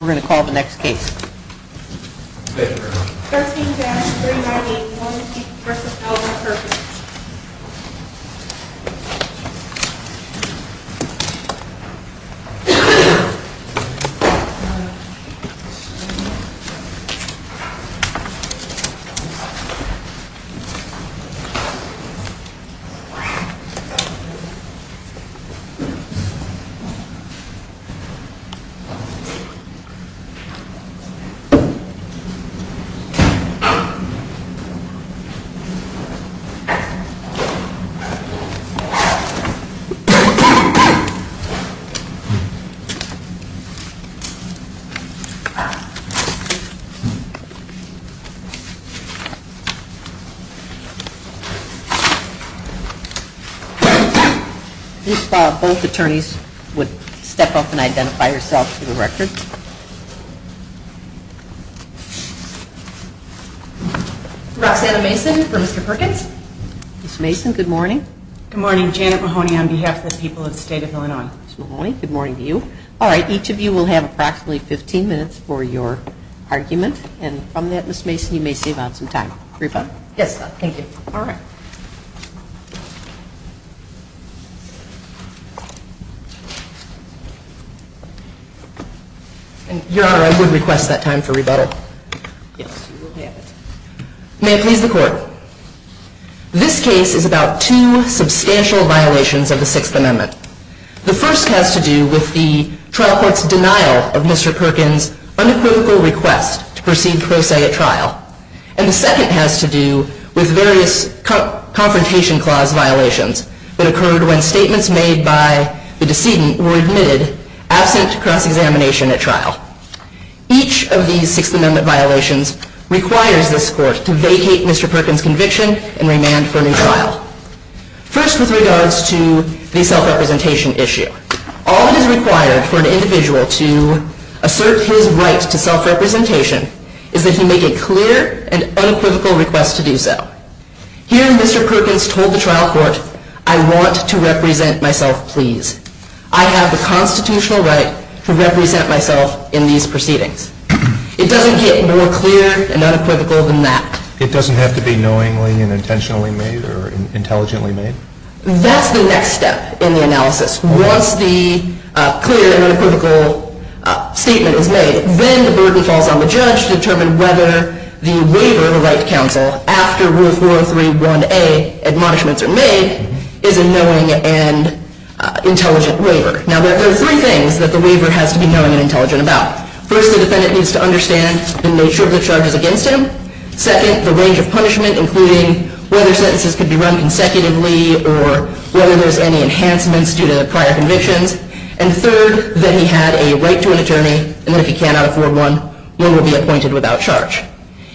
We're going to call the next case. Here is the letter. You spot both attorneys would step up and identify yourself to the records. You will have approximately 15 minutes for your argument and from that Ms. Mason you may save out some time. Reba? Yes, thank you. Your Honor, I would request that time for rebuttal. Yes, you will have it. May it please the Court. This case is about two substantial violations of the Sixth Amendment. The first has to do with the trial court's denial of Mr. Perkins' unequivocal request to proceed pro se at trial. And the second has to do with various Confrontation Clause violations that occurred when statements made by the decedent were admitted absent cross-examination at trial. Each of these Sixth Amendment violations requires this Court to vacate Mr. Perkins' conviction and remand for a new trial. First with regards to the self-representation issue. All that is required for an individual to assert his right to self-representation is that he make a clear and unequivocal request to do so. Here Mr. Perkins told the trial court, I want to represent myself please. I have the constitutional right to represent myself in these proceedings. It doesn't get more clear and unequivocal than that. It doesn't have to be knowingly and intentionally made or intelligently made? That's the next step in the analysis. Once the clear and unequivocal statement is made, then the burden falls on the judge to determine whether the waiver of a right to counsel after Rule 403.1a admonishments are made is a knowing and intelligent waiver. Now there are three things that the waiver has to be knowing and intelligent about. First, the defendant needs to understand the nature of the charges against him. Second, the range of punishment, including whether sentences could be run consecutively or whether there's any enhancements due to prior convictions. And third, that he had a right to an attorney, and if he cannot afford one, one will be appointed without charge.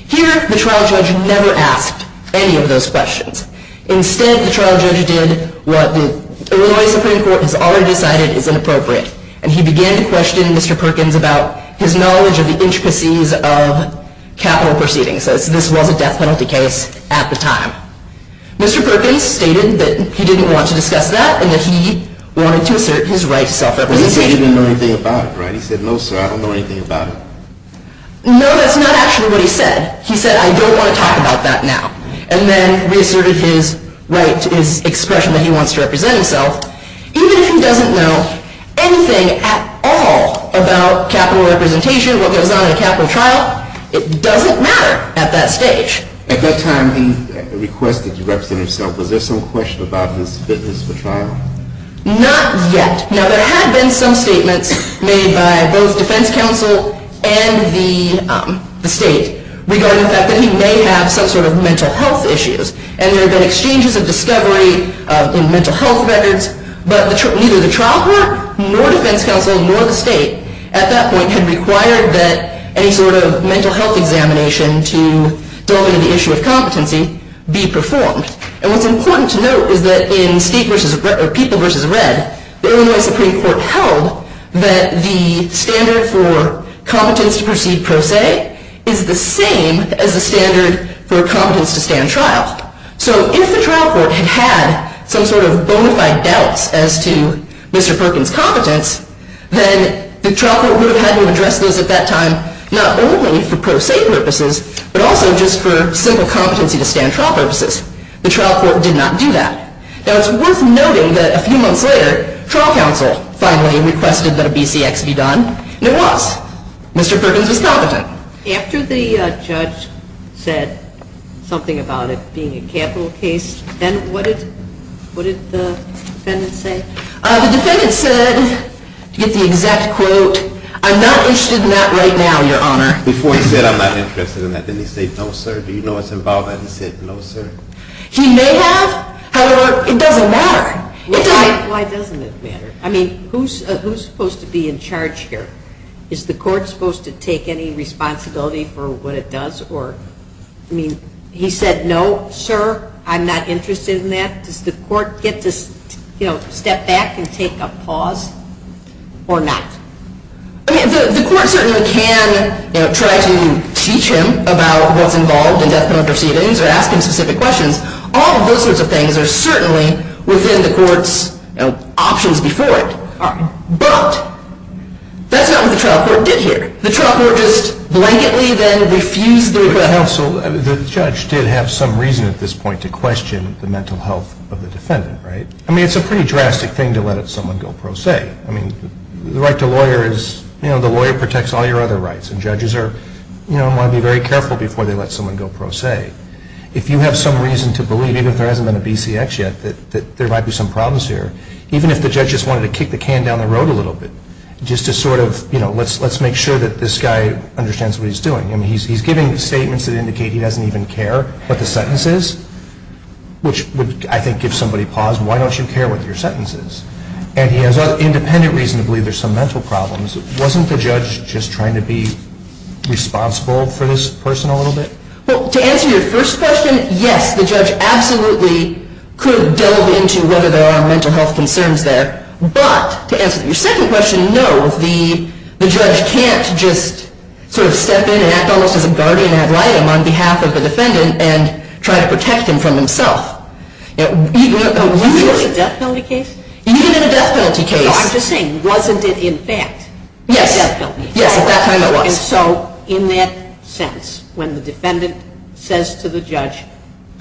Here, the trial judge never asked any of those questions. Instead, the trial judge did what the Illinois Supreme Court has already decided is inappropriate. And he began to question Mr. Perkins about his knowledge of the intricacies of capital proceedings. So this was a death penalty case at the time. Mr. Perkins stated that he didn't want to discuss that, and that he wanted to assert his right to self-representation. He said he didn't know anything about it, right? He said, no, sir, I don't know anything about it. No, that's not actually what he said. He said, I don't want to talk about that now. And then reasserted his right, his expression that he wants to represent himself. Even if he doesn't know anything at all about capital representation, what goes on in a capital trial, it doesn't matter at that stage. At that time, he requested to represent himself. Was there some question about his fitness for trial? Not yet. Now, there had been some statements made by both defense counsel and the state regarding the fact that he may have some sort of mental health issues. And there had been exchanges of discovery in mental health records. But neither the trial court, nor defense counsel, nor the state, at that point had required that any sort of mental health examination to delineate the issue of competency be performed. And what's important to note is that in People v. Red, the Illinois Supreme Court held that the standard for competence to proceed pro se is the same as the standard for competence to stand trial. So if the trial court had had some sort of bona fide doubts as to Mr. Perkins' competence, then the trial court would have had to address those at that time not only for pro se purposes, but also just for simple competency to stand trial purposes. The trial court did not do that. Now, it's worth noting that a few months later, trial counsel finally requested that a BCX be done. And it was. Mr. Perkins was competent. After the judge said something about it being a capital case, then what did the defendant say? The defendant said, to get the exact quote, I'm not interested in that right now, Your Honor. Before he said I'm not interested in that, didn't he say no, sir? Do you know what's involved in that? He said no, sir. He may have. However, it doesn't matter. Why doesn't it matter? I mean, who's supposed to be in charge here? Is the court supposed to take any responsibility for what it does? I mean, he said no, sir, I'm not interested in that. Does the court get to step back and take a pause or not? I mean, the court certainly can try to teach him about what's involved in death penalty proceedings or ask him specific questions. All of those sorts of things are certainly within the court's options before it. But that's not what the trial court did here. The trial court just blanketly then refused the request. The judge did have some reason at this point to question the mental health of the defendant, right? I mean, it's a pretty drastic thing to let someone go pro se. I mean, the right to a lawyer is, you know, the lawyer protects all your other rights, and judges want to be very careful before they let someone go pro se. If you have some reason to believe, even if there hasn't been a BCX yet, that there might be some problems here, even if the judge just wanted to kick the can down the road a little bit, just to sort of, you know, let's make sure that this guy understands what he's doing. I mean, he's giving statements that indicate he doesn't even care what the sentence is, which would, I think, give somebody pause. Why don't you care what your sentence is? And he has independent reason to believe there's some mental problems. Wasn't the judge just trying to be responsible for this person a little bit? Well, to answer your first question, yes, the judge absolutely could delve into whether there are mental health concerns there. But to answer your second question, no, the judge can't just sort of step in and act almost as a guardian ad litem on behalf of the defendant and try to protect him from himself. Even in a death penalty case. I'm just saying, wasn't it in fact a death penalty case? Yes, at that time it was.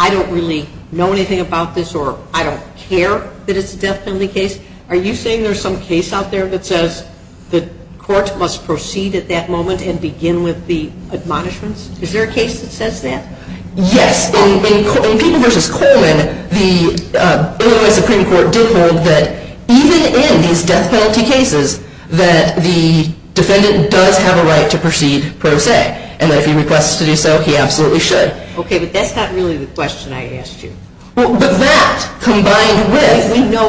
I don't really know anything about this or I don't care that it's a death penalty case. Are you saying there's some case out there that says the court must proceed at that moment and begin with the admonishments? Is there a case that says that? Yes. In People v. Coleman, the Illinois Supreme Court did hold that even in these death penalty cases that the defendant does have a right to proceed pro se, and that if he requests to do so, he absolutely should. Okay, but that's not really the question I asked you. But that combined with... We know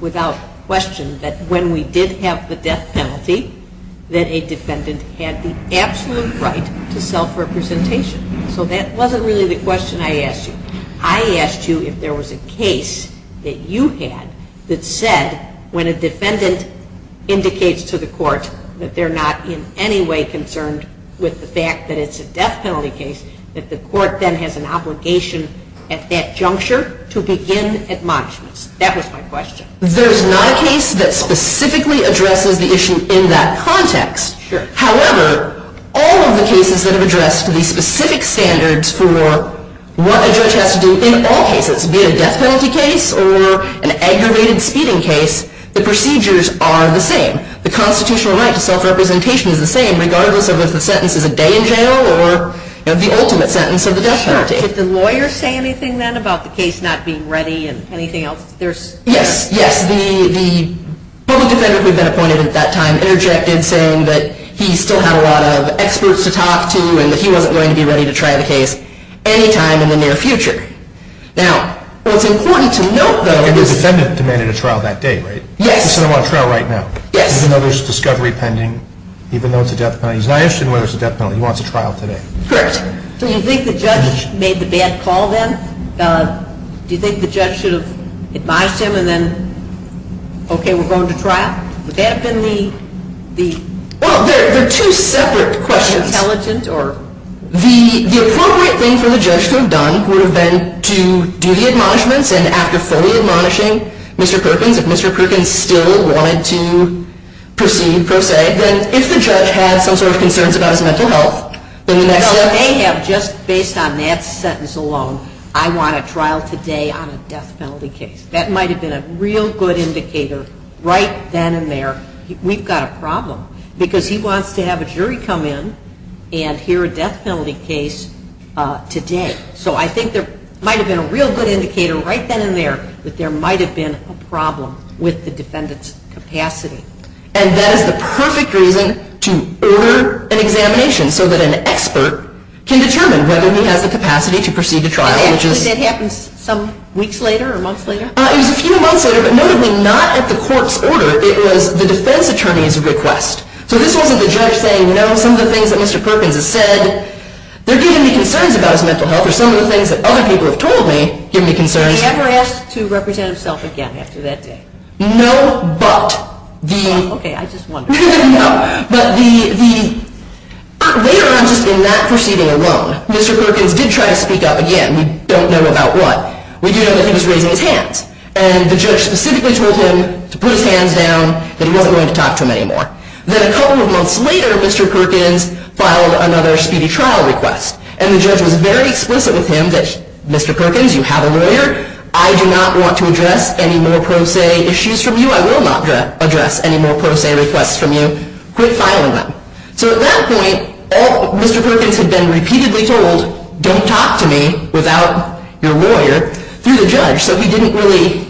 without question that when we did have the death penalty, that a defendant had the absolute right to self-representation. So that wasn't really the question I asked you. I asked you if there was a case that you had that said when a defendant indicates to the court that they're not in any way concerned with the fact that it's a death penalty case, that the court then has an obligation at that juncture to begin admonishments. That was my question. There's not a case that specifically addresses the issue in that context. However, all of the cases that have addressed the specific standards for what a judge has to do in all cases, be it a death penalty case or an aggravated speeding case, the procedures are the same. The constitutional right to self-representation is the same, regardless of if the sentence is a day in jail or the ultimate sentence of the death penalty. Did the lawyer say anything then about the case not being ready and anything else? Yes, yes. The public defender who had been appointed at that time interjected, saying that he still had a lot of experts to talk to and that he wasn't going to be ready to try the case any time in the near future. Now, what's important to note, though... And the defendant demanded a trial that day, right? Yes. He said, I want a trial right now. Yes. Even though there's a discovery pending, even though it's a death penalty. He's not interested in whether it's a death penalty. He wants a trial today. Correct. Do you think the judge made the bad call then? Do you think the judge should have advised him and then, okay, we're going to trial? Would that have been the... Well, they're two separate questions. Intelligent or... The appropriate thing for the judge to have done would have been to do the admonishments and after fully admonishing Mr. Perkins, if Mr. Perkins still wanted to proceed, then if the judge had some sort of concerns about his mental health, then the next step... Well, they have just based on that sentence alone, I want a trial today on a death penalty case. That might have been a real good indicator right then and there, we've got a problem, because he wants to have a jury come in and hear a death penalty case today. So I think there might have been a real good indicator right then and there that there might have been a problem with the defendant's capacity. And that is the perfect reason to order an examination so that an expert can determine whether he has the capacity to proceed to trial, which is... And actually that happens some weeks later or months later? It was a few months later, but notably not at the court's order. It was the defense attorney's request. So this wasn't the judge saying, no, some of the things that Mr. Perkins has said, they're giving me concerns about his mental health, or some of the things that other people have told me give me concerns. Did he ever ask to represent himself again after that day? No, but the... Okay, I just wondered. No, but the... Later on, just in that proceeding alone, Mr. Perkins did try to speak up again. We don't know about what. We do know that he was raising his hands, and the judge specifically told him to put his hands down, that he wasn't going to talk to him anymore. Then a couple of months later, Mr. Perkins filed another speedy trial request, and the judge was very explicit with him that, Mr. Perkins, you have a lawyer. I do not want to address any more pro se issues from you. I will not address any more pro se requests from you. Quit filing them. So at that point, Mr. Perkins had been repeatedly told, don't talk to me without your lawyer, through the judge. So he didn't really,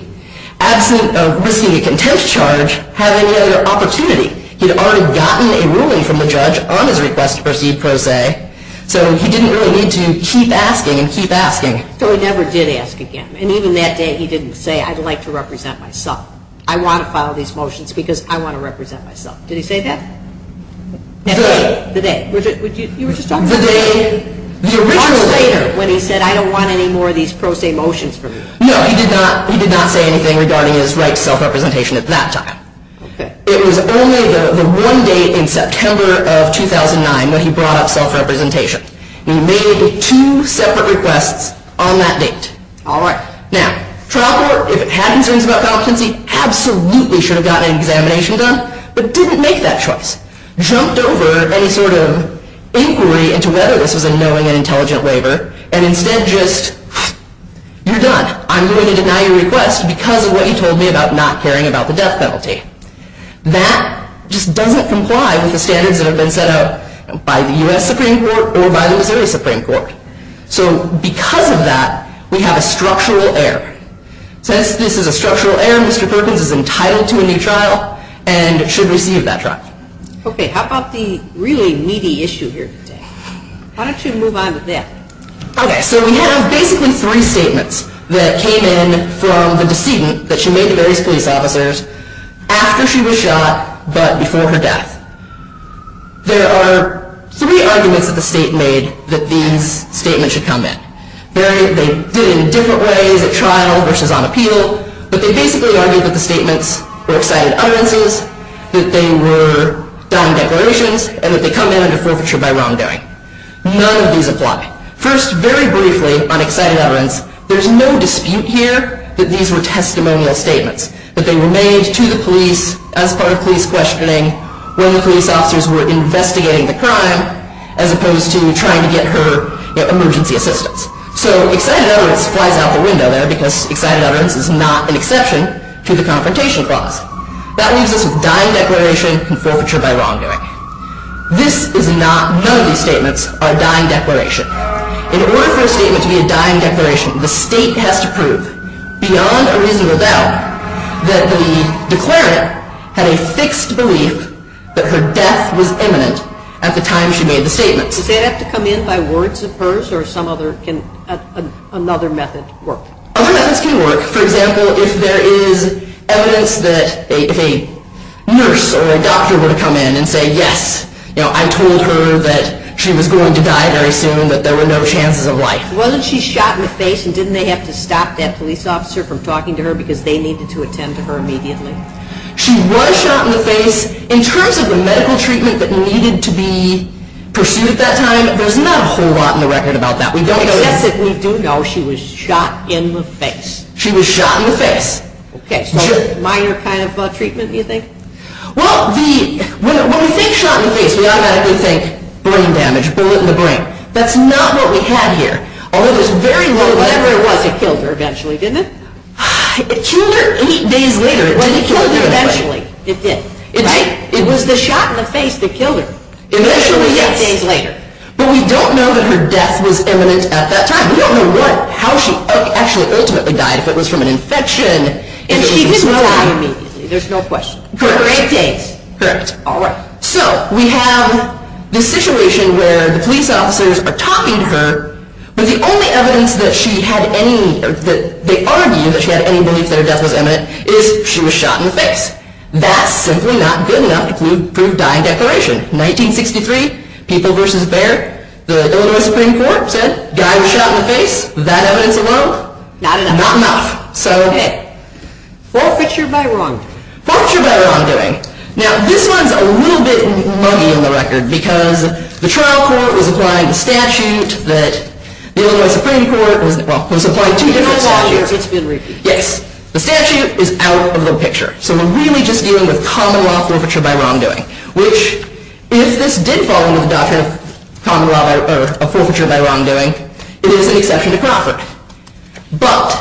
absent of risking a contempt charge, have any other opportunity. He had already gotten a ruling from the judge on his request to proceed pro se, so he didn't really need to keep asking and keep asking. So he never did ask again, and even that day he didn't say, I'd like to represent myself. I want to file these motions because I want to represent myself. Did he say that? The day. The day. The day. The day. The original day. Months later, when he said, I don't want any more of these pro se motions from you. No, he did not. He did not say anything regarding his right to self-representation at that time. It was only the one day in September of 2009 when he brought up self-representation. He made two separate requests on that date. Now, trial court, if it had concerns about competency, absolutely should have gotten an examination done, but didn't make that choice. Jumped over any sort of inquiry into whether this was a knowing and intelligent waiver, and instead just, you're done. I'm going to deny your request because of what you told me about not caring about the death penalty. That just doesn't comply with the standards that have been set out by the U.S. Supreme Court or by the Missouri Supreme Court. So because of that, we have a structural error. Since this is a structural error, Mr. Perkins is entitled to a new trial and should receive that trial. Okay, how about the really meaty issue here today? Why don't you move on with that? Okay, so we have basically three statements that came in from the decedent that she made to various police officers after she was shot but before her death. There are three arguments that the state made that these statements should come in. They did it in different ways at trial versus on appeal, but they basically argued that the statements were excited utterances, that they were dumb declarations, and that they come in under forfeiture by wrongdoing. None of these apply. First, very briefly on excited utterance, there's no dispute here that these were testimonial statements that they were made to the police as part of police questioning when the police officers were investigating the crime as opposed to trying to get her emergency assistance. So excited utterance flies out the window there because excited utterance is not an exception to the confrontation clause. That leaves us with dying declaration and forfeiture by wrongdoing. None of these statements are dying declarations. In order for a statement to be a dying declaration, the state has to prove beyond a reasonable doubt that the declarant had a fixed belief that her death was imminent at the time she made the statements. Does that have to come in by words of hers or can another method work? Other methods can work. For example, if there is evidence that if a nurse or a doctor were to come in and say, yes, I told her that she was going to die very soon, that there were no chances of life. Wasn't she shot in the face and didn't they have to stop that police officer from talking to her because they needed to attend to her immediately? She was shot in the face. In terms of the medical treatment that needed to be pursued at that time, there's not a whole lot in the record about that. Yes, we do know she was shot in the face. She was shot in the face. Okay, so minor kind of treatment, you think? Well, when we think shot in the face, we automatically think brain damage, bullet in the brain. That's not what we have here. Although there's very little, whatever it was, it killed her eventually, didn't it? It killed her eight days later. It did kill her eventually. It did, right? It was the shot in the face that killed her. Eventually, yes. Eight days later. But we don't know that her death was imminent at that time. We don't know how she actually ultimately died, if it was from an infection. And she did die immediately. There's no question. Correct. Eight days. Correct. All right. So we have this situation where the police officers are talking to her, but the only evidence that they argue that she had any belief that her death was imminent is she was shot in the face. That's simply not good enough to prove dying declaration. 1963, People v. Baird, the Illinois Supreme Court said, guy was shot in the face. That evidence alone, not enough. So, hey. Forfeiture by wrongdoing. Forfeiture by wrongdoing. Now, this one's a little bit muggy on the record, because the trial court was applying the statute that the Illinois Supreme Court was applying two different statutes. It's been repeated. Yes. The statute is out of the picture. So we're really just dealing with common law forfeiture by wrongdoing, which if this did fall under the doctrine of common law or of forfeiture by wrongdoing, it is an exception to Crawford. But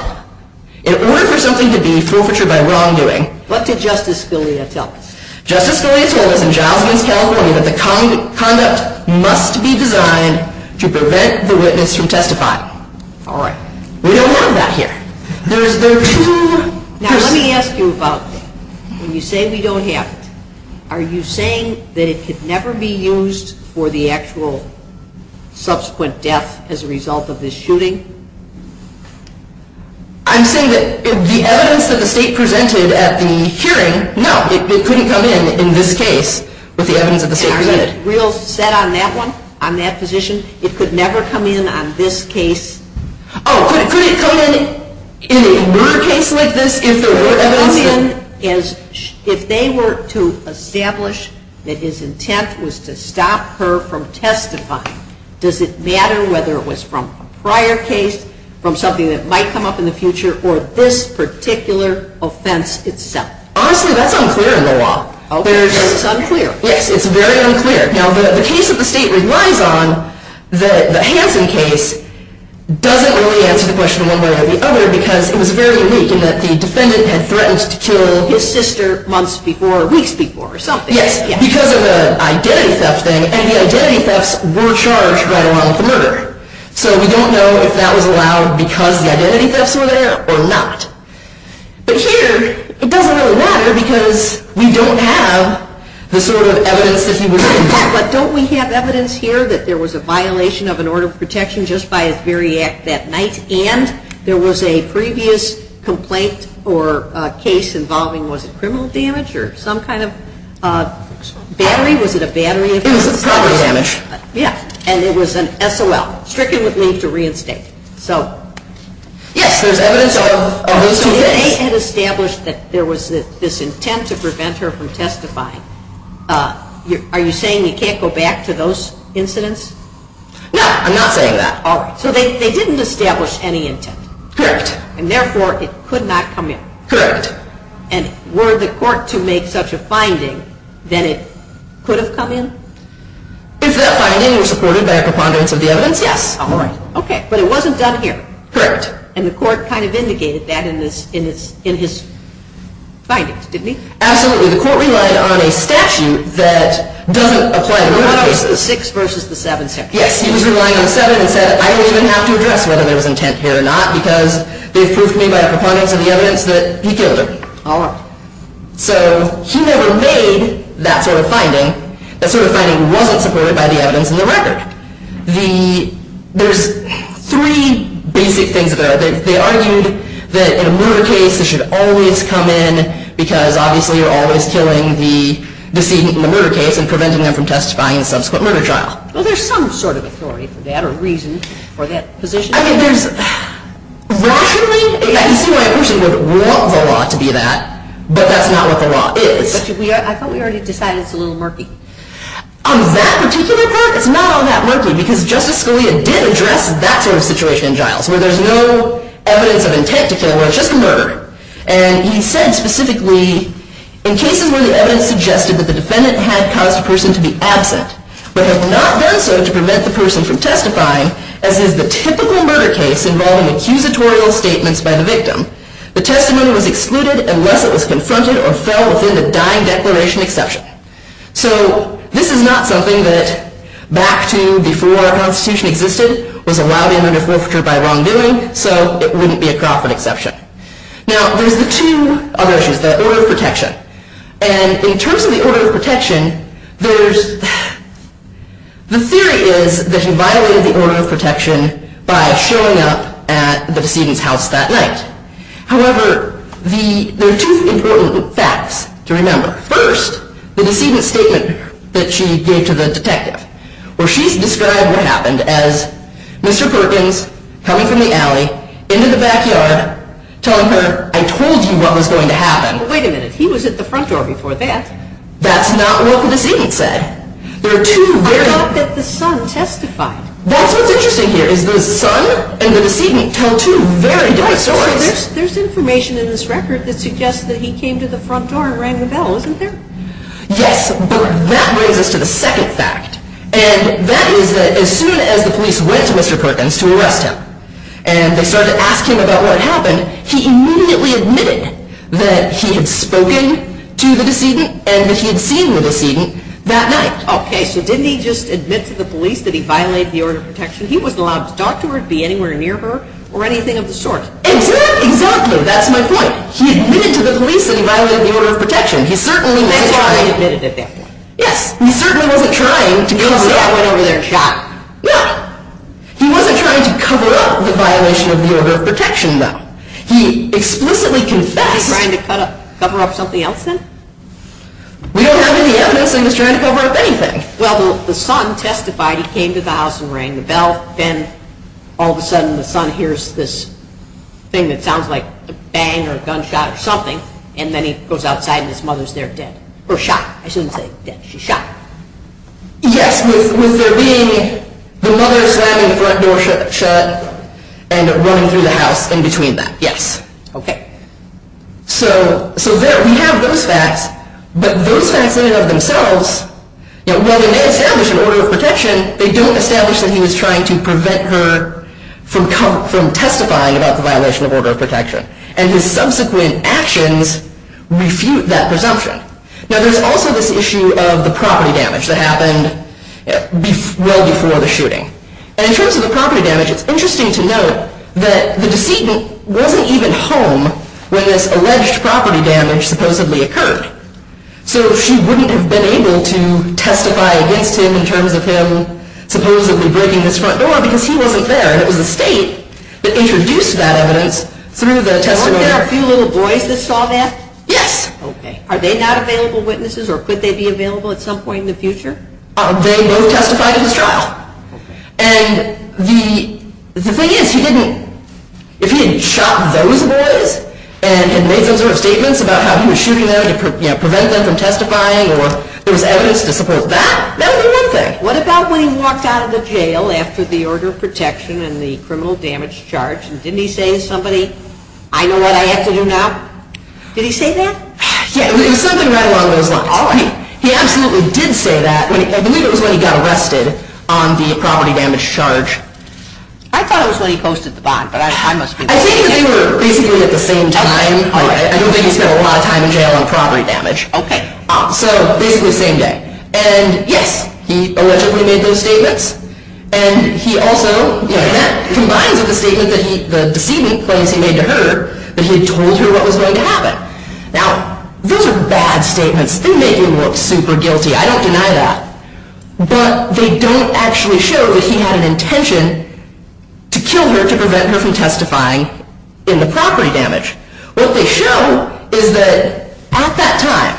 in order for something to be forfeiture by wrongdoing. What did Justice Scalia tell us? Justice Scalia told us in Jiles v. California that the conduct must be designed to prevent the witness from testifying. All right. We don't have that here. Now, let me ask you about when you say we don't have it. Are you saying that it could never be used for the actual subsequent death as a result of this shooting? I'm saying that the evidence that the state presented at the hearing, no. It couldn't come in in this case with the evidence that the state presented. And are you set on that one, on that position? It could never come in on this case? Oh, could it come in in a murder case like this if there were evidence? If they were to establish that his intent was to stop her from testifying, does it matter whether it was from a prior case, from something that might come up in the future, or this particular offense itself? Honestly, that's unclear in the law. Okay. It's unclear. Yes, it's very unclear. Now, the case that the state relies on, the Hansen case, doesn't really answer the question one way or the other because it was very weak in that the defendant had threatened to kill his sister months before, weeks before, or something. Yes, because of the identity theft thing. And the identity thefts were charged right along with the murder. So we don't know if that was allowed because the identity thefts were there or not. But here, it doesn't really matter because we don't have the sort of evidence that he was involved in. But don't we have evidence here that there was a violation of an order of protection just by his very act that night, and there was a previous complaint or case involving, was it criminal damage or some kind of battery? Was it a battery? It was a property damage. Yes. And it was an SOL, stricken with leave to reinstate. So, yes, there's evidence of those two things. They had established that there was this intent to prevent her from testifying. Are you saying you can't go back to those incidents? No, I'm not saying that. All right. So they didn't establish any intent. Correct. And, therefore, it could not come in. Correct. And were the court to make such a finding that it could have come in? If that finding were supported by a preponderance of the evidence, yes. All right. Okay. But it wasn't done here. Correct. And the court kind of indicated that in his findings, didn't he? Absolutely. The court relied on a statute that doesn't apply to murder cases. The 6 versus the 7 statute. Yes. He was relying on the 7 and said, I don't even have to address whether there was intent here or not because they've proved to me by a preponderance of the evidence that he killed her. All right. So he never made that sort of finding. That sort of finding wasn't supported by the evidence in the record. There's three basic things there. They argued that in a murder case, it should always come in because, obviously, you're always killing the decedent in the murder case and preventing them from testifying in a subsequent murder trial. Well, there's some sort of authority for that or reason for that position. I think there's, rationally, I can see why a person would want the law to be that, but that's not what the law is. But I thought we already decided it's a little murky. On that particular part, it's not all that murky because Justice Scalia did address that sort of situation in Giles where there's no evidence of intent to kill, where it's just a murder. And he said, specifically, in cases where the evidence suggested that the defendant had caused a person to be absent but had not done so to prevent the person from testifying, as is the typical murder case involving accusatorial statements by the victim, the testimony was excluded unless it was confronted or fell within the dying declaration exception. So this is not something that, back to before our Constitution existed, was allowed in under forfeiture by wrongdoing, so it wouldn't be a Crawford exception. Now, there's the two other issues, the order of protection. And in terms of the order of protection, the theory is that he violated the order of protection by showing up at the decedent's house that night. However, there are two important facts to remember. First, the decedent's statement that she gave to the detective where she's described what happened as Mr. Perkins coming from the alley, into the backyard, telling her, I told you what was going to happen. Wait a minute, he was at the front door before that. That's not what the decedent said. I thought that the son testified. That's what's interesting here, is the son and the decedent tell two very different stories. There's information in this record that suggests that he came to the front door and rang the bell, isn't there? Yes, but that brings us to the second fact. And that is that as soon as the police went to Mr. Perkins to arrest him and they started asking about what happened, he immediately admitted that he had spoken to the decedent and that he had seen the decedent that night. Okay, so didn't he just admit to the police that he violated the order of protection? He wasn't allowed to talk to her, be anywhere near her, or anything of the sort. Exactly, exactly, that's my point. He admitted to the police that he violated the order of protection. He certainly wasn't trying. He went over there and shot. No, he wasn't trying to cover up the violation of the order of protection, though. He explicitly confessed. Was he trying to cover up something else, then? We don't have any evidence that he was trying to cover up anything. Well, the son testified, he came to the house and rang the bell, then all of a sudden the son hears this thing that sounds like a bang or a gunshot or something, and then he goes outside and his mother's there dead. Or shot, I shouldn't say dead, she's shot. Yes, with there being the mother slamming the front door shut and running through the house in between that, yes. Okay. So there we have those facts, but those facts in and of themselves, while they may establish an order of protection, they don't establish that he was trying to prevent her from testifying about the violation of order of protection. And his subsequent actions refute that presumption. Now, there's also this issue of the property damage that happened well before the shooting. And in terms of the property damage, it's interesting to note that the decedent wasn't even home when this alleged property damage supposedly occurred. So she wouldn't have been able to testify against him in terms of him supposedly breaking his front door because he wasn't there. And it was the state that introduced that evidence through the testimony. Weren't there a few little boys that saw that? Yes. Okay. Are they not available witnesses or could they be available at some point in the future? They both testified in his trial. Okay. And the thing is, if he hadn't shot those boys and made those sort of statements about how he was shooting them to prevent them from testifying or there was evidence to support that, that would be one thing. What about when he walked out of the jail after the order of protection and the criminal damage charge? And didn't he say to somebody, I know what I have to do now? Did he say that? Yes. It was something right along those lines. All right. He absolutely did say that. I believe it was when he got arrested on the property damage charge. I thought it was when he posted the bond, but I must be mistaken. I think that they were basically at the same time. I don't think he spent a lot of time in jail on property damage. Okay. So basically the same day. And yes, he allegedly made those statements. And he also, you know, that combines with the statement that he, the decedent claims he made to her that he had told her what was going to happen. Now, those are bad statements. They make him look super guilty. I don't deny that. But they don't actually show that he had an intention to kill her to prevent her from testifying in the property damage. What they show is that at that time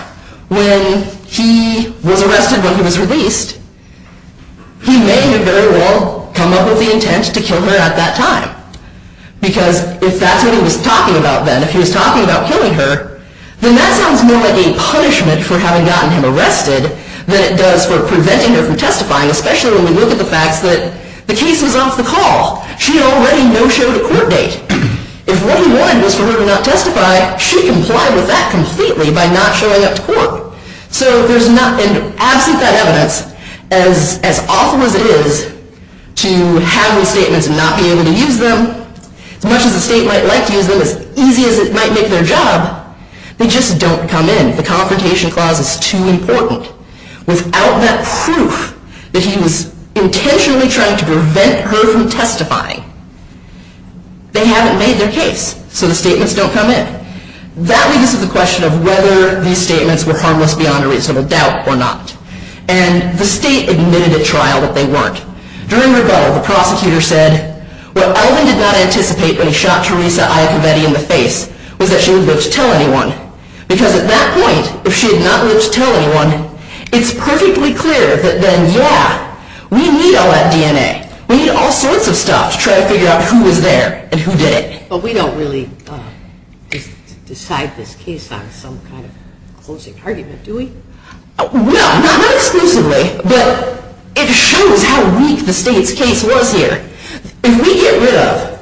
when he was arrested when he was released, he may have very well come up with the intent to kill her at that time. Because if that's what he was talking about then, if he was talking about killing her, then that sounds more like a punishment for having gotten him arrested than it does for preventing her from testifying, especially when we look at the facts that the case was off the call. She had already no show to court date. If what he wanted was for her to not testify, she complied with that completely by not showing up to court. So there's not, and absent that evidence, as awful as it is to have those statements and not be able to use them, as much as the state might like to use them, as easy as it might make their job, they just don't come in. The confrontation clause is too important. Without that proof that he was intentionally trying to prevent her from testifying, they haven't made their case. So the statements don't come in. That leads to the question of whether these statements were harmless beyond a reasonable doubt or not. And the state admitted at trial that they weren't. During rebuttal, the prosecutor said, what Elvin did not anticipate when he shot Teresa Iacovetti in the face was that she would live to tell anyone. Because at that point, if she had not lived to tell anyone, it's perfectly clear that then, yeah, we need all that DNA. We need all sorts of stuff to try to figure out who was there and who did it. But we don't really decide this case on some kind of closing argument, do we? Well, not exclusively, but it shows how weak the state's case was here. If we get rid of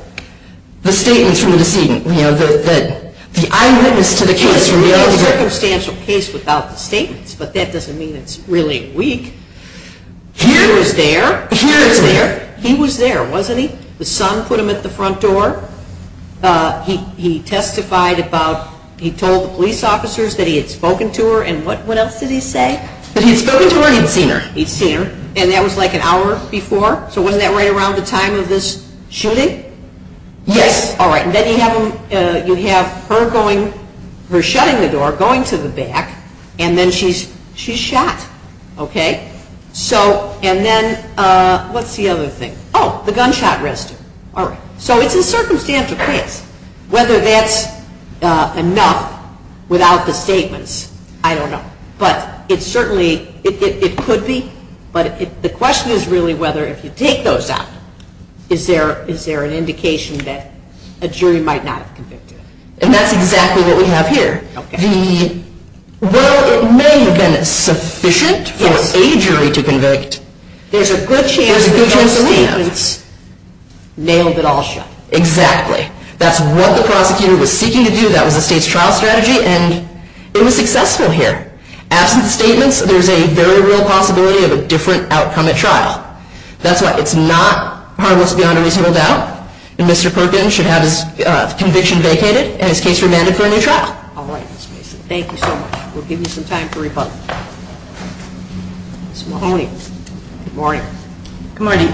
the statements from the decedent, you know, the eyewitness to the case from the elder. We can get a circumstantial case without the statements, but that doesn't mean it's really weak. He was there. He was there, wasn't he? The son put him at the front door. He testified about, he told the police officers that he had spoken to her. And what else did he say? That he had spoken to her and he had seen her. And that was like an hour before? So wasn't that right around the time of this shooting? Yes. All right. And then you have her going, her shutting the door, going to the back, and then she's shot. Okay? So and then what's the other thing? Oh, the gunshot residue. All right. So it's a circumstantial case. Whether that's enough without the statements, I don't know. But it certainly, it could be. But the question is really whether if you take those out, is there an indication that a jury might not have convicted him? And that's exactly what we have here. Well, it may have been sufficient for a jury to convict. There's a good chance that those statements nailed it all shut. Exactly. That's what the prosecutor was seeking to do. That was the state's trial strategy, and it was successful here. Absent statements, there's a very real possibility of a different outcome at trial. That's why it's not harmless beyond a reasonable doubt. And Mr. Perkins should have his conviction vacated and his case remanded for a new trial. All right, Ms. Mason. Thank you so much. We'll give you some time for rebuttal. Ms. Mahoney. Good morning. Good morning.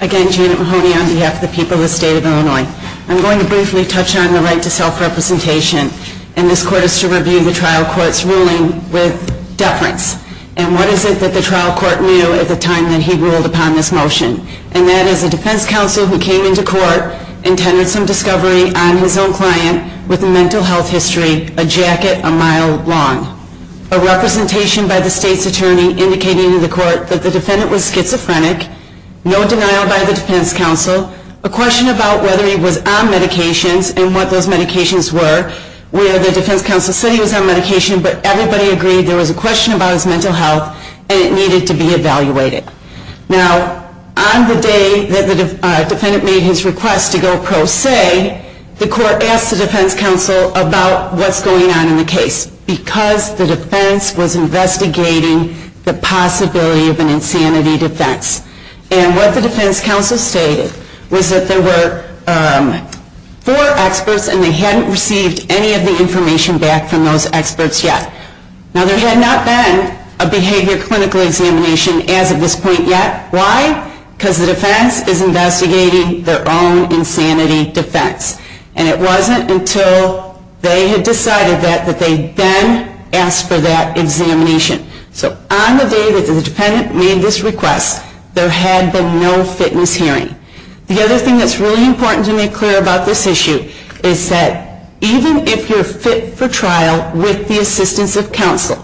Again, Janet Mahoney on behalf of the people of the State of Illinois. I'm going to briefly touch on the right to self-representation, and this court is to review the trial court's ruling with deference. And what is it that the trial court knew at the time that he ruled upon this motion? And that is a defense counsel who came into court and tendered some discovery on his own client with a mental health history a jacket a mile long, a representation by the state's attorney indicating to the court that the defendant was schizophrenic, no denial by the defense counsel, a question about whether he was on medications and what those medications were, where the defense counsel said he was on medication but everybody agreed there was a question about his mental health and it needed to be evaluated. Now, on the day that the defendant made his request to go pro se, the court asked the defense counsel about what's going on in the case because the defense was investigating the possibility of an insanity defense. And what the defense counsel stated was that there were four experts and they hadn't received any of the information back from those experts yet. Now, there had not been a behavior clinical examination as of this point yet. Why? Because the defense is investigating their own insanity defense. And it wasn't until they had decided that that they then asked for that examination. So on the day that the defendant made this request, there had been no fitness hearing. The other thing that's really important to make clear about this issue is that even if you're fit for trial with the assistance of counsel,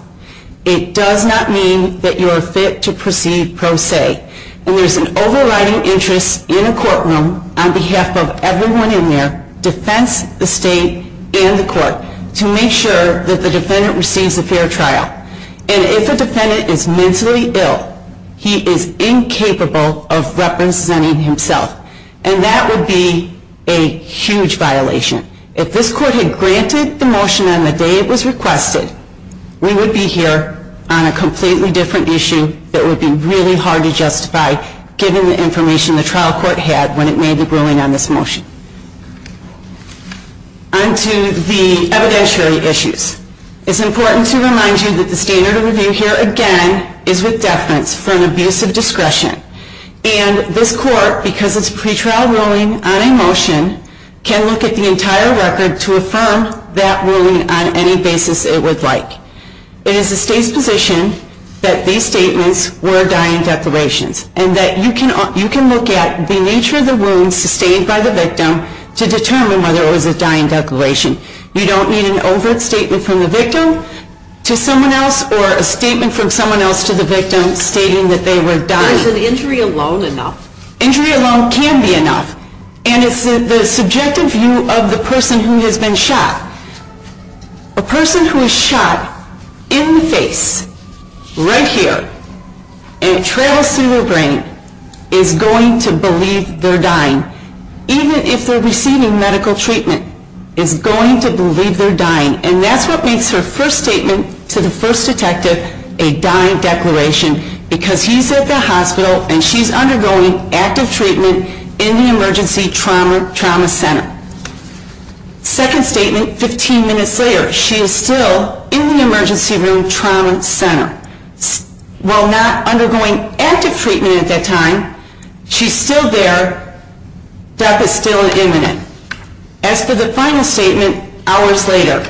it does not mean that you're fit to proceed pro se. And there's an overriding interest in a courtroom on behalf of everyone in there, defense, the state, and the court, to make sure that the defendant receives a fair trial. And if a defendant is mentally ill, he is incapable of representing himself. And that would be a huge violation. If this court had granted the motion on the day it was requested, we would be here on a completely different issue that would be really hard to justify, given the information the trial court had when it made the ruling on this motion. On to the evidentiary issues. It's important to remind you that the standard of review here, again, is with deference for an abuse of discretion. And this court, because it's a pretrial ruling on a motion, can look at the entire record to affirm that ruling on any basis it would like. It is the state's position that these statements were dying declarations and that you can look at the nature of the wounds sustained by the victim to determine whether it was a dying declaration. You don't need an overt statement from the victim to someone else or a statement from someone else to the victim stating that they were dying. Is an injury alone enough? Injury alone can be enough. And it's the subjective view of the person who has been shot. A person who was shot in the face, right here, and it travels through their brain, is going to believe they're dying, even if they're receiving medical treatment, is going to believe they're dying. And that's what makes her first statement to the first detective a dying declaration, because he's at the hospital and she's undergoing active treatment in the emergency trauma center. Second statement, 15 minutes later, she is still in the emergency room trauma center. While not undergoing active treatment at that time, she's still there. Death is still imminent. As for the final statement, hours later,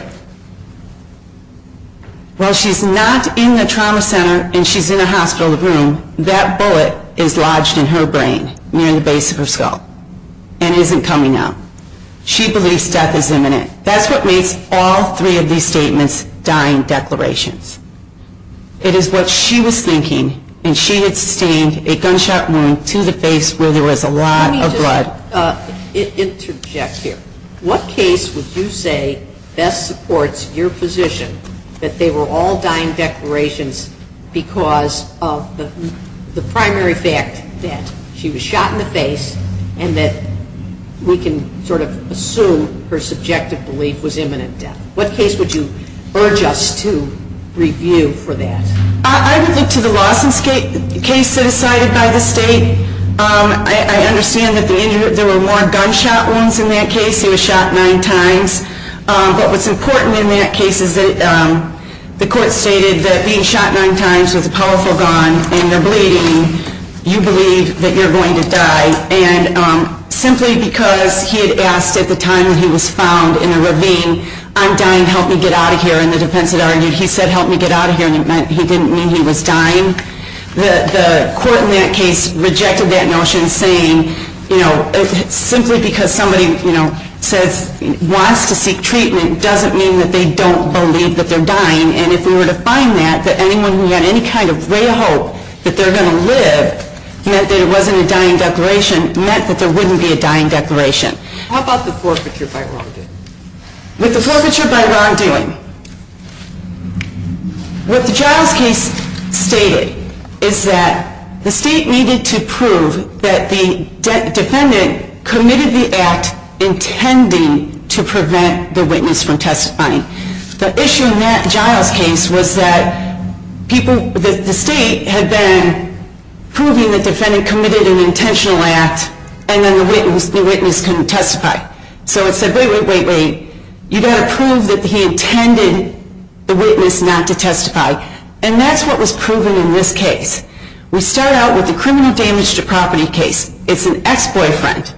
while she's not in the trauma center and she's in a hospital room, that bullet is lodged in her brain near the base of her skull and isn't coming out. She believes death is imminent. That's what makes all three of these statements dying declarations. It is what she was thinking, and she had sustained a gunshot wound to the face where there was a lot of blood. Interject here. What case would you say best supports your position that they were all dying declarations because of the primary fact that she was shot in the face and that we can sort of assume her subjective belief was imminent death? What case would you urge us to review for that? I would look to the Lawson case that is cited by the state. I understand that there were more gunshot wounds in that case. He was shot nine times. But what's important in that case is that the court stated that being shot nine times with a powerful gun and you're bleeding, you believe that you're going to die. And simply because he had asked at the time that he was found in a ravine, I'm dying, help me get out of here, and the defense had argued, he said help me get out of here, and it meant he didn't mean he was dying. The court in that case rejected that notion saying, you know, simply because somebody, you know, says wants to seek treatment doesn't mean that they don't believe that they're dying. And if we were to find that, that anyone who had any kind of ray of hope that they're going to live meant that it wasn't a dying declaration, meant that there wouldn't be a dying declaration. How about the forfeiture by wrongdoing? With the forfeiture by wrongdoing, what the Giles case stated is that the state needed to prove that the defendant committed the act intending to prevent the witness from testifying. The issue in that Giles case was that the state had been proving that the defendant committed an intentional act and then the witness couldn't testify. So it said, wait, wait, wait, wait. You've got to prove that he intended the witness not to testify, and that's what was proven in this case. We start out with the criminal damage to property case. It's an ex-boyfriend.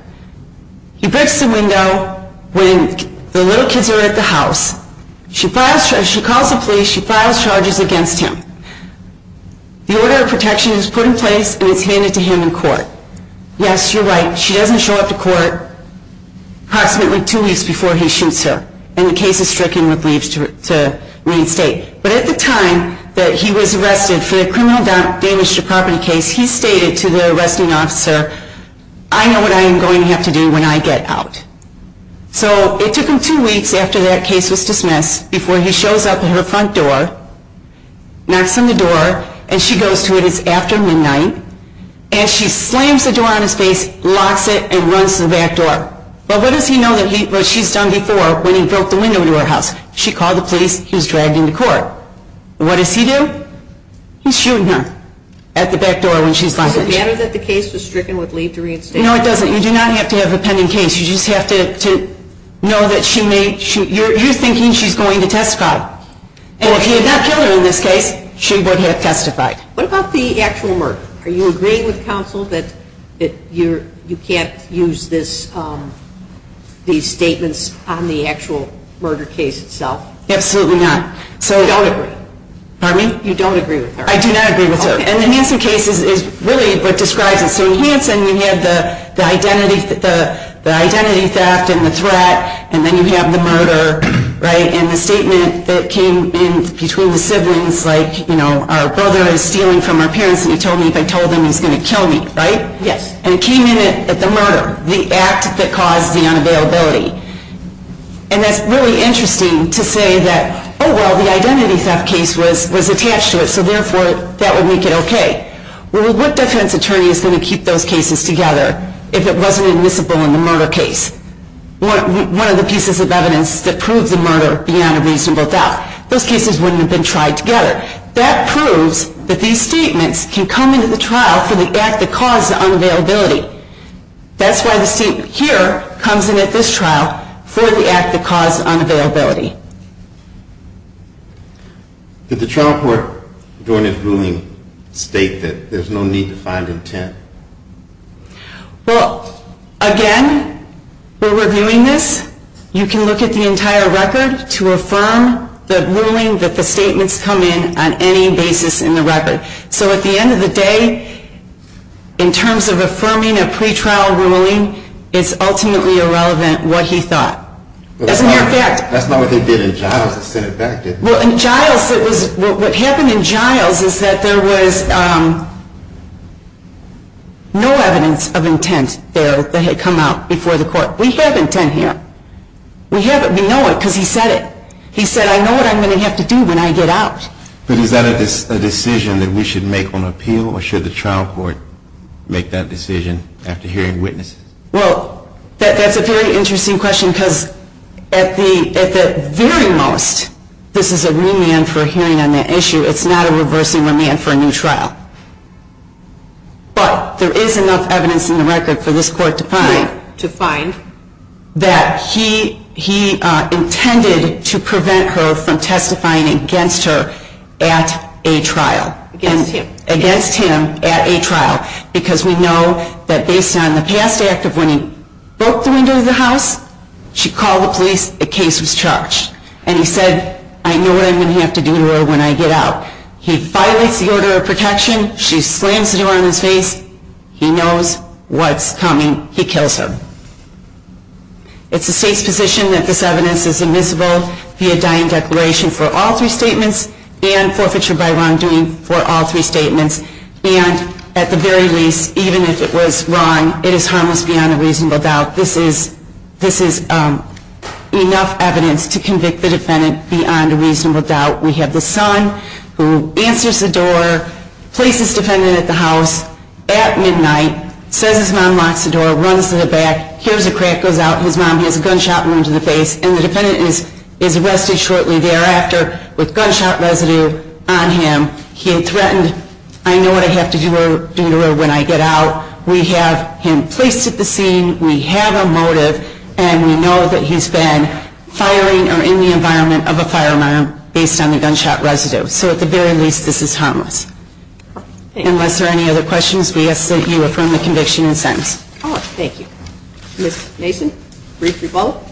He breaks the window when the little kids are at the house. She calls the police. She files charges against him. The order of protection is put in place, and it's handed to him in court. Yes, you're right. She doesn't show up to court approximately two weeks before he shoots her, and the case is stricken with leaves to reinstate. But at the time that he was arrested for the criminal damage to property case, he stated to the arresting officer, I know what I am going to have to do when I get out. So it took him two weeks after that case was dismissed before he shows up at her front door, knocks on the door, and she goes to him. It's after midnight. And she slams the door on his face, locks it, and runs to the back door. But what does he know what she's done before when he broke the window to her house? She called the police. He was dragged into court. What does he do? He's shooting her at the back door when she's lying on the floor. Does it matter that the case was stricken with leave to reinstate? No, it doesn't. You do not have to have a pending case. You just have to know that she may shoot. You're thinking she's going to testify. And if he had not killed her in this case, she would have testified. What about the actual murder? Are you agreeing with counsel that you can't use these statements on the actual murder case itself? Absolutely not. You don't agree with her. I do not agree with her. And the Hanson case is really what describes it. So in Hanson, you have the identity theft and the threat, and then you have the murder, right? And the statement that came in between the siblings, like, you know, our brother is stealing from our parents, and he told me if I told him he was going to kill me, right? Yes. And it came in at the murder, the act that caused the unavailability. And that's really interesting to say that, oh, well, the identity theft case was attached to it, so therefore that would make it okay. Well, what defense attorney is going to keep those cases together if it wasn't admissible in the murder case? It's one of the pieces of evidence that proves the murder beyond a reasonable doubt. Those cases wouldn't have been tried together. That proves that these statements can come into the trial for the act that caused the unavailability. That's why the statement here comes in at this trial for the act that caused unavailability. Did the trial court during its ruling state that there's no need to find intent? Well, again, we're reviewing this. You can look at the entire record to affirm the ruling that the statements come in on any basis in the record. So at the end of the day, in terms of affirming a pretrial ruling, it's ultimately irrelevant what he thought. That's not what they did in Giles that sent it back, did it? Well, in Giles, what happened in Giles is that there was no evidence of intent there that had come out before the court. We have intent here. We know it because he said it. He said, I know what I'm going to have to do when I get out. But is that a decision that we should make on appeal, or should the trial court make that decision after hearing witnesses? Well, that's a very interesting question, because at the very most, this is a remand for hearing on that issue. It's not a reversing remand for a new trial. But there is enough evidence in the record for this court to find that he intended to prevent her from testifying against her at a trial. Against him. At a trial. Because we know that based on the past act of when he broke the window of the house, she called the police. The case was charged. And he said, I know what I'm going to have to do to her when I get out. He violates the order of protection. She slams the door in his face. He knows what's coming. He kills her. It's the state's position that this evidence is admissible via dying declaration for all three statements, and forfeiture by wrongdoing for all three statements. And at the very least, even if it was wrong, it is harmless beyond a reasonable doubt. This is enough evidence to convict the defendant beyond a reasonable doubt. We have the son who answers the door, places defendant at the house at midnight, says his mom locks the door, runs to the back, hears a crack goes out, his mom has a gunshot wound to the face. And the defendant is arrested shortly thereafter with gunshot residue on him. He had threatened, I know what I have to do to her when I get out. We have him placed at the scene. We have a motive. And we know that he's been firing or in the environment of a firearm based on the gunshot residue. So at the very least, this is harmless. Unless there are any other questions, we ask that you affirm the conviction and sentence. Thank you. Ms. Mason, brief rebuttal.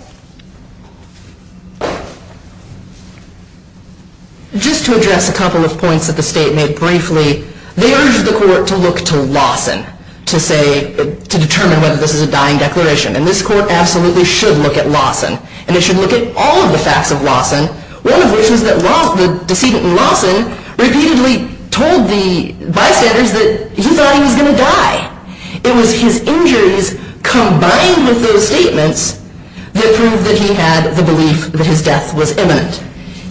Just to address a couple of points that the state made briefly, they urged the court to look to Lawson to determine whether this is a dying declaration. And this court absolutely should look at Lawson. And it should look at all of the facts of Lawson, one of which was that the decedent in Lawson repeatedly told the bystanders that he thought he was going to die. It was his injuries combined with those statements that proved that he had the belief that his death was imminent.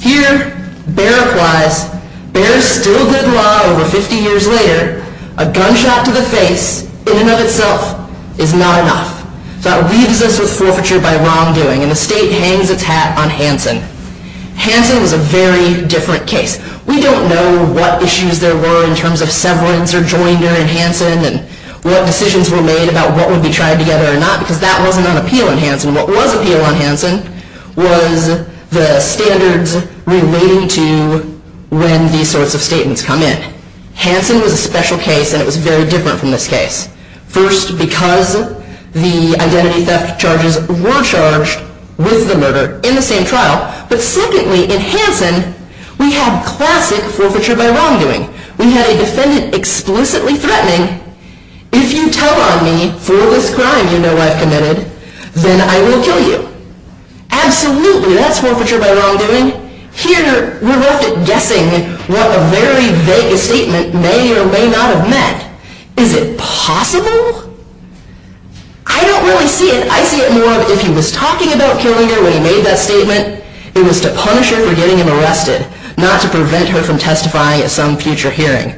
Here, Behr replies, Behr is still good law over 50 years later. A gunshot to the face in and of itself is not enough. So that leaves us with forfeiture by wrongdoing. And the state hangs its hat on Hansen. Hansen was a very different case. We don't know what issues there were in terms of severance or joinder in Hansen and what decisions were made about what would be tried together or not, because that wasn't on appeal in Hansen. What was appeal on Hansen was the standards relating to when these sorts of statements come in. Hansen was a special case, and it was very different from this case. First, because the identity theft charges were charged with the murder in the same trial. But secondly, in Hansen, we had classic forfeiture by wrongdoing. We had a defendant explicitly threatening, if you tell on me for this crime you know I've committed, then I will kill you. Absolutely, that's forfeiture by wrongdoing. Here, we're left guessing what a very vague statement may or may not have meant. Is it possible? I don't really see it. I see it more of if he was talking about killing her when he made that statement, it was to punish her for getting him arrested, not to prevent her from testifying at some future hearing.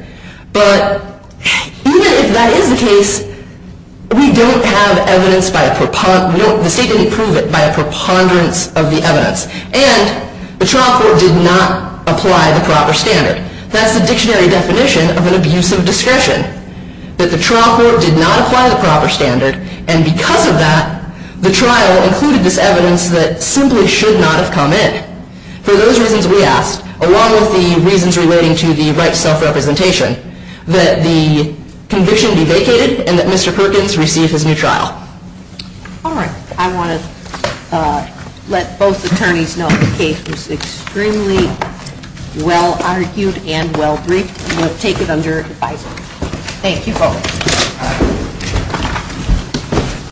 But even if that is the case, we don't have evidence by a preponderance. The state didn't prove it by a preponderance of the evidence. And the trial court did not apply the proper standard. That's the dictionary definition of an abusive discretion, that the trial court did not apply the proper standard, and because of that, the trial included this evidence that simply should not have come in. For those reasons we asked, along with the reasons relating to the right to self-representation, that the conviction be vacated and that Mr. Perkins receive his new trial. All right. I want to let both attorneys know the case was extremely well-argued and well-briefed. We'll take it under advisory. Thank you. Okay.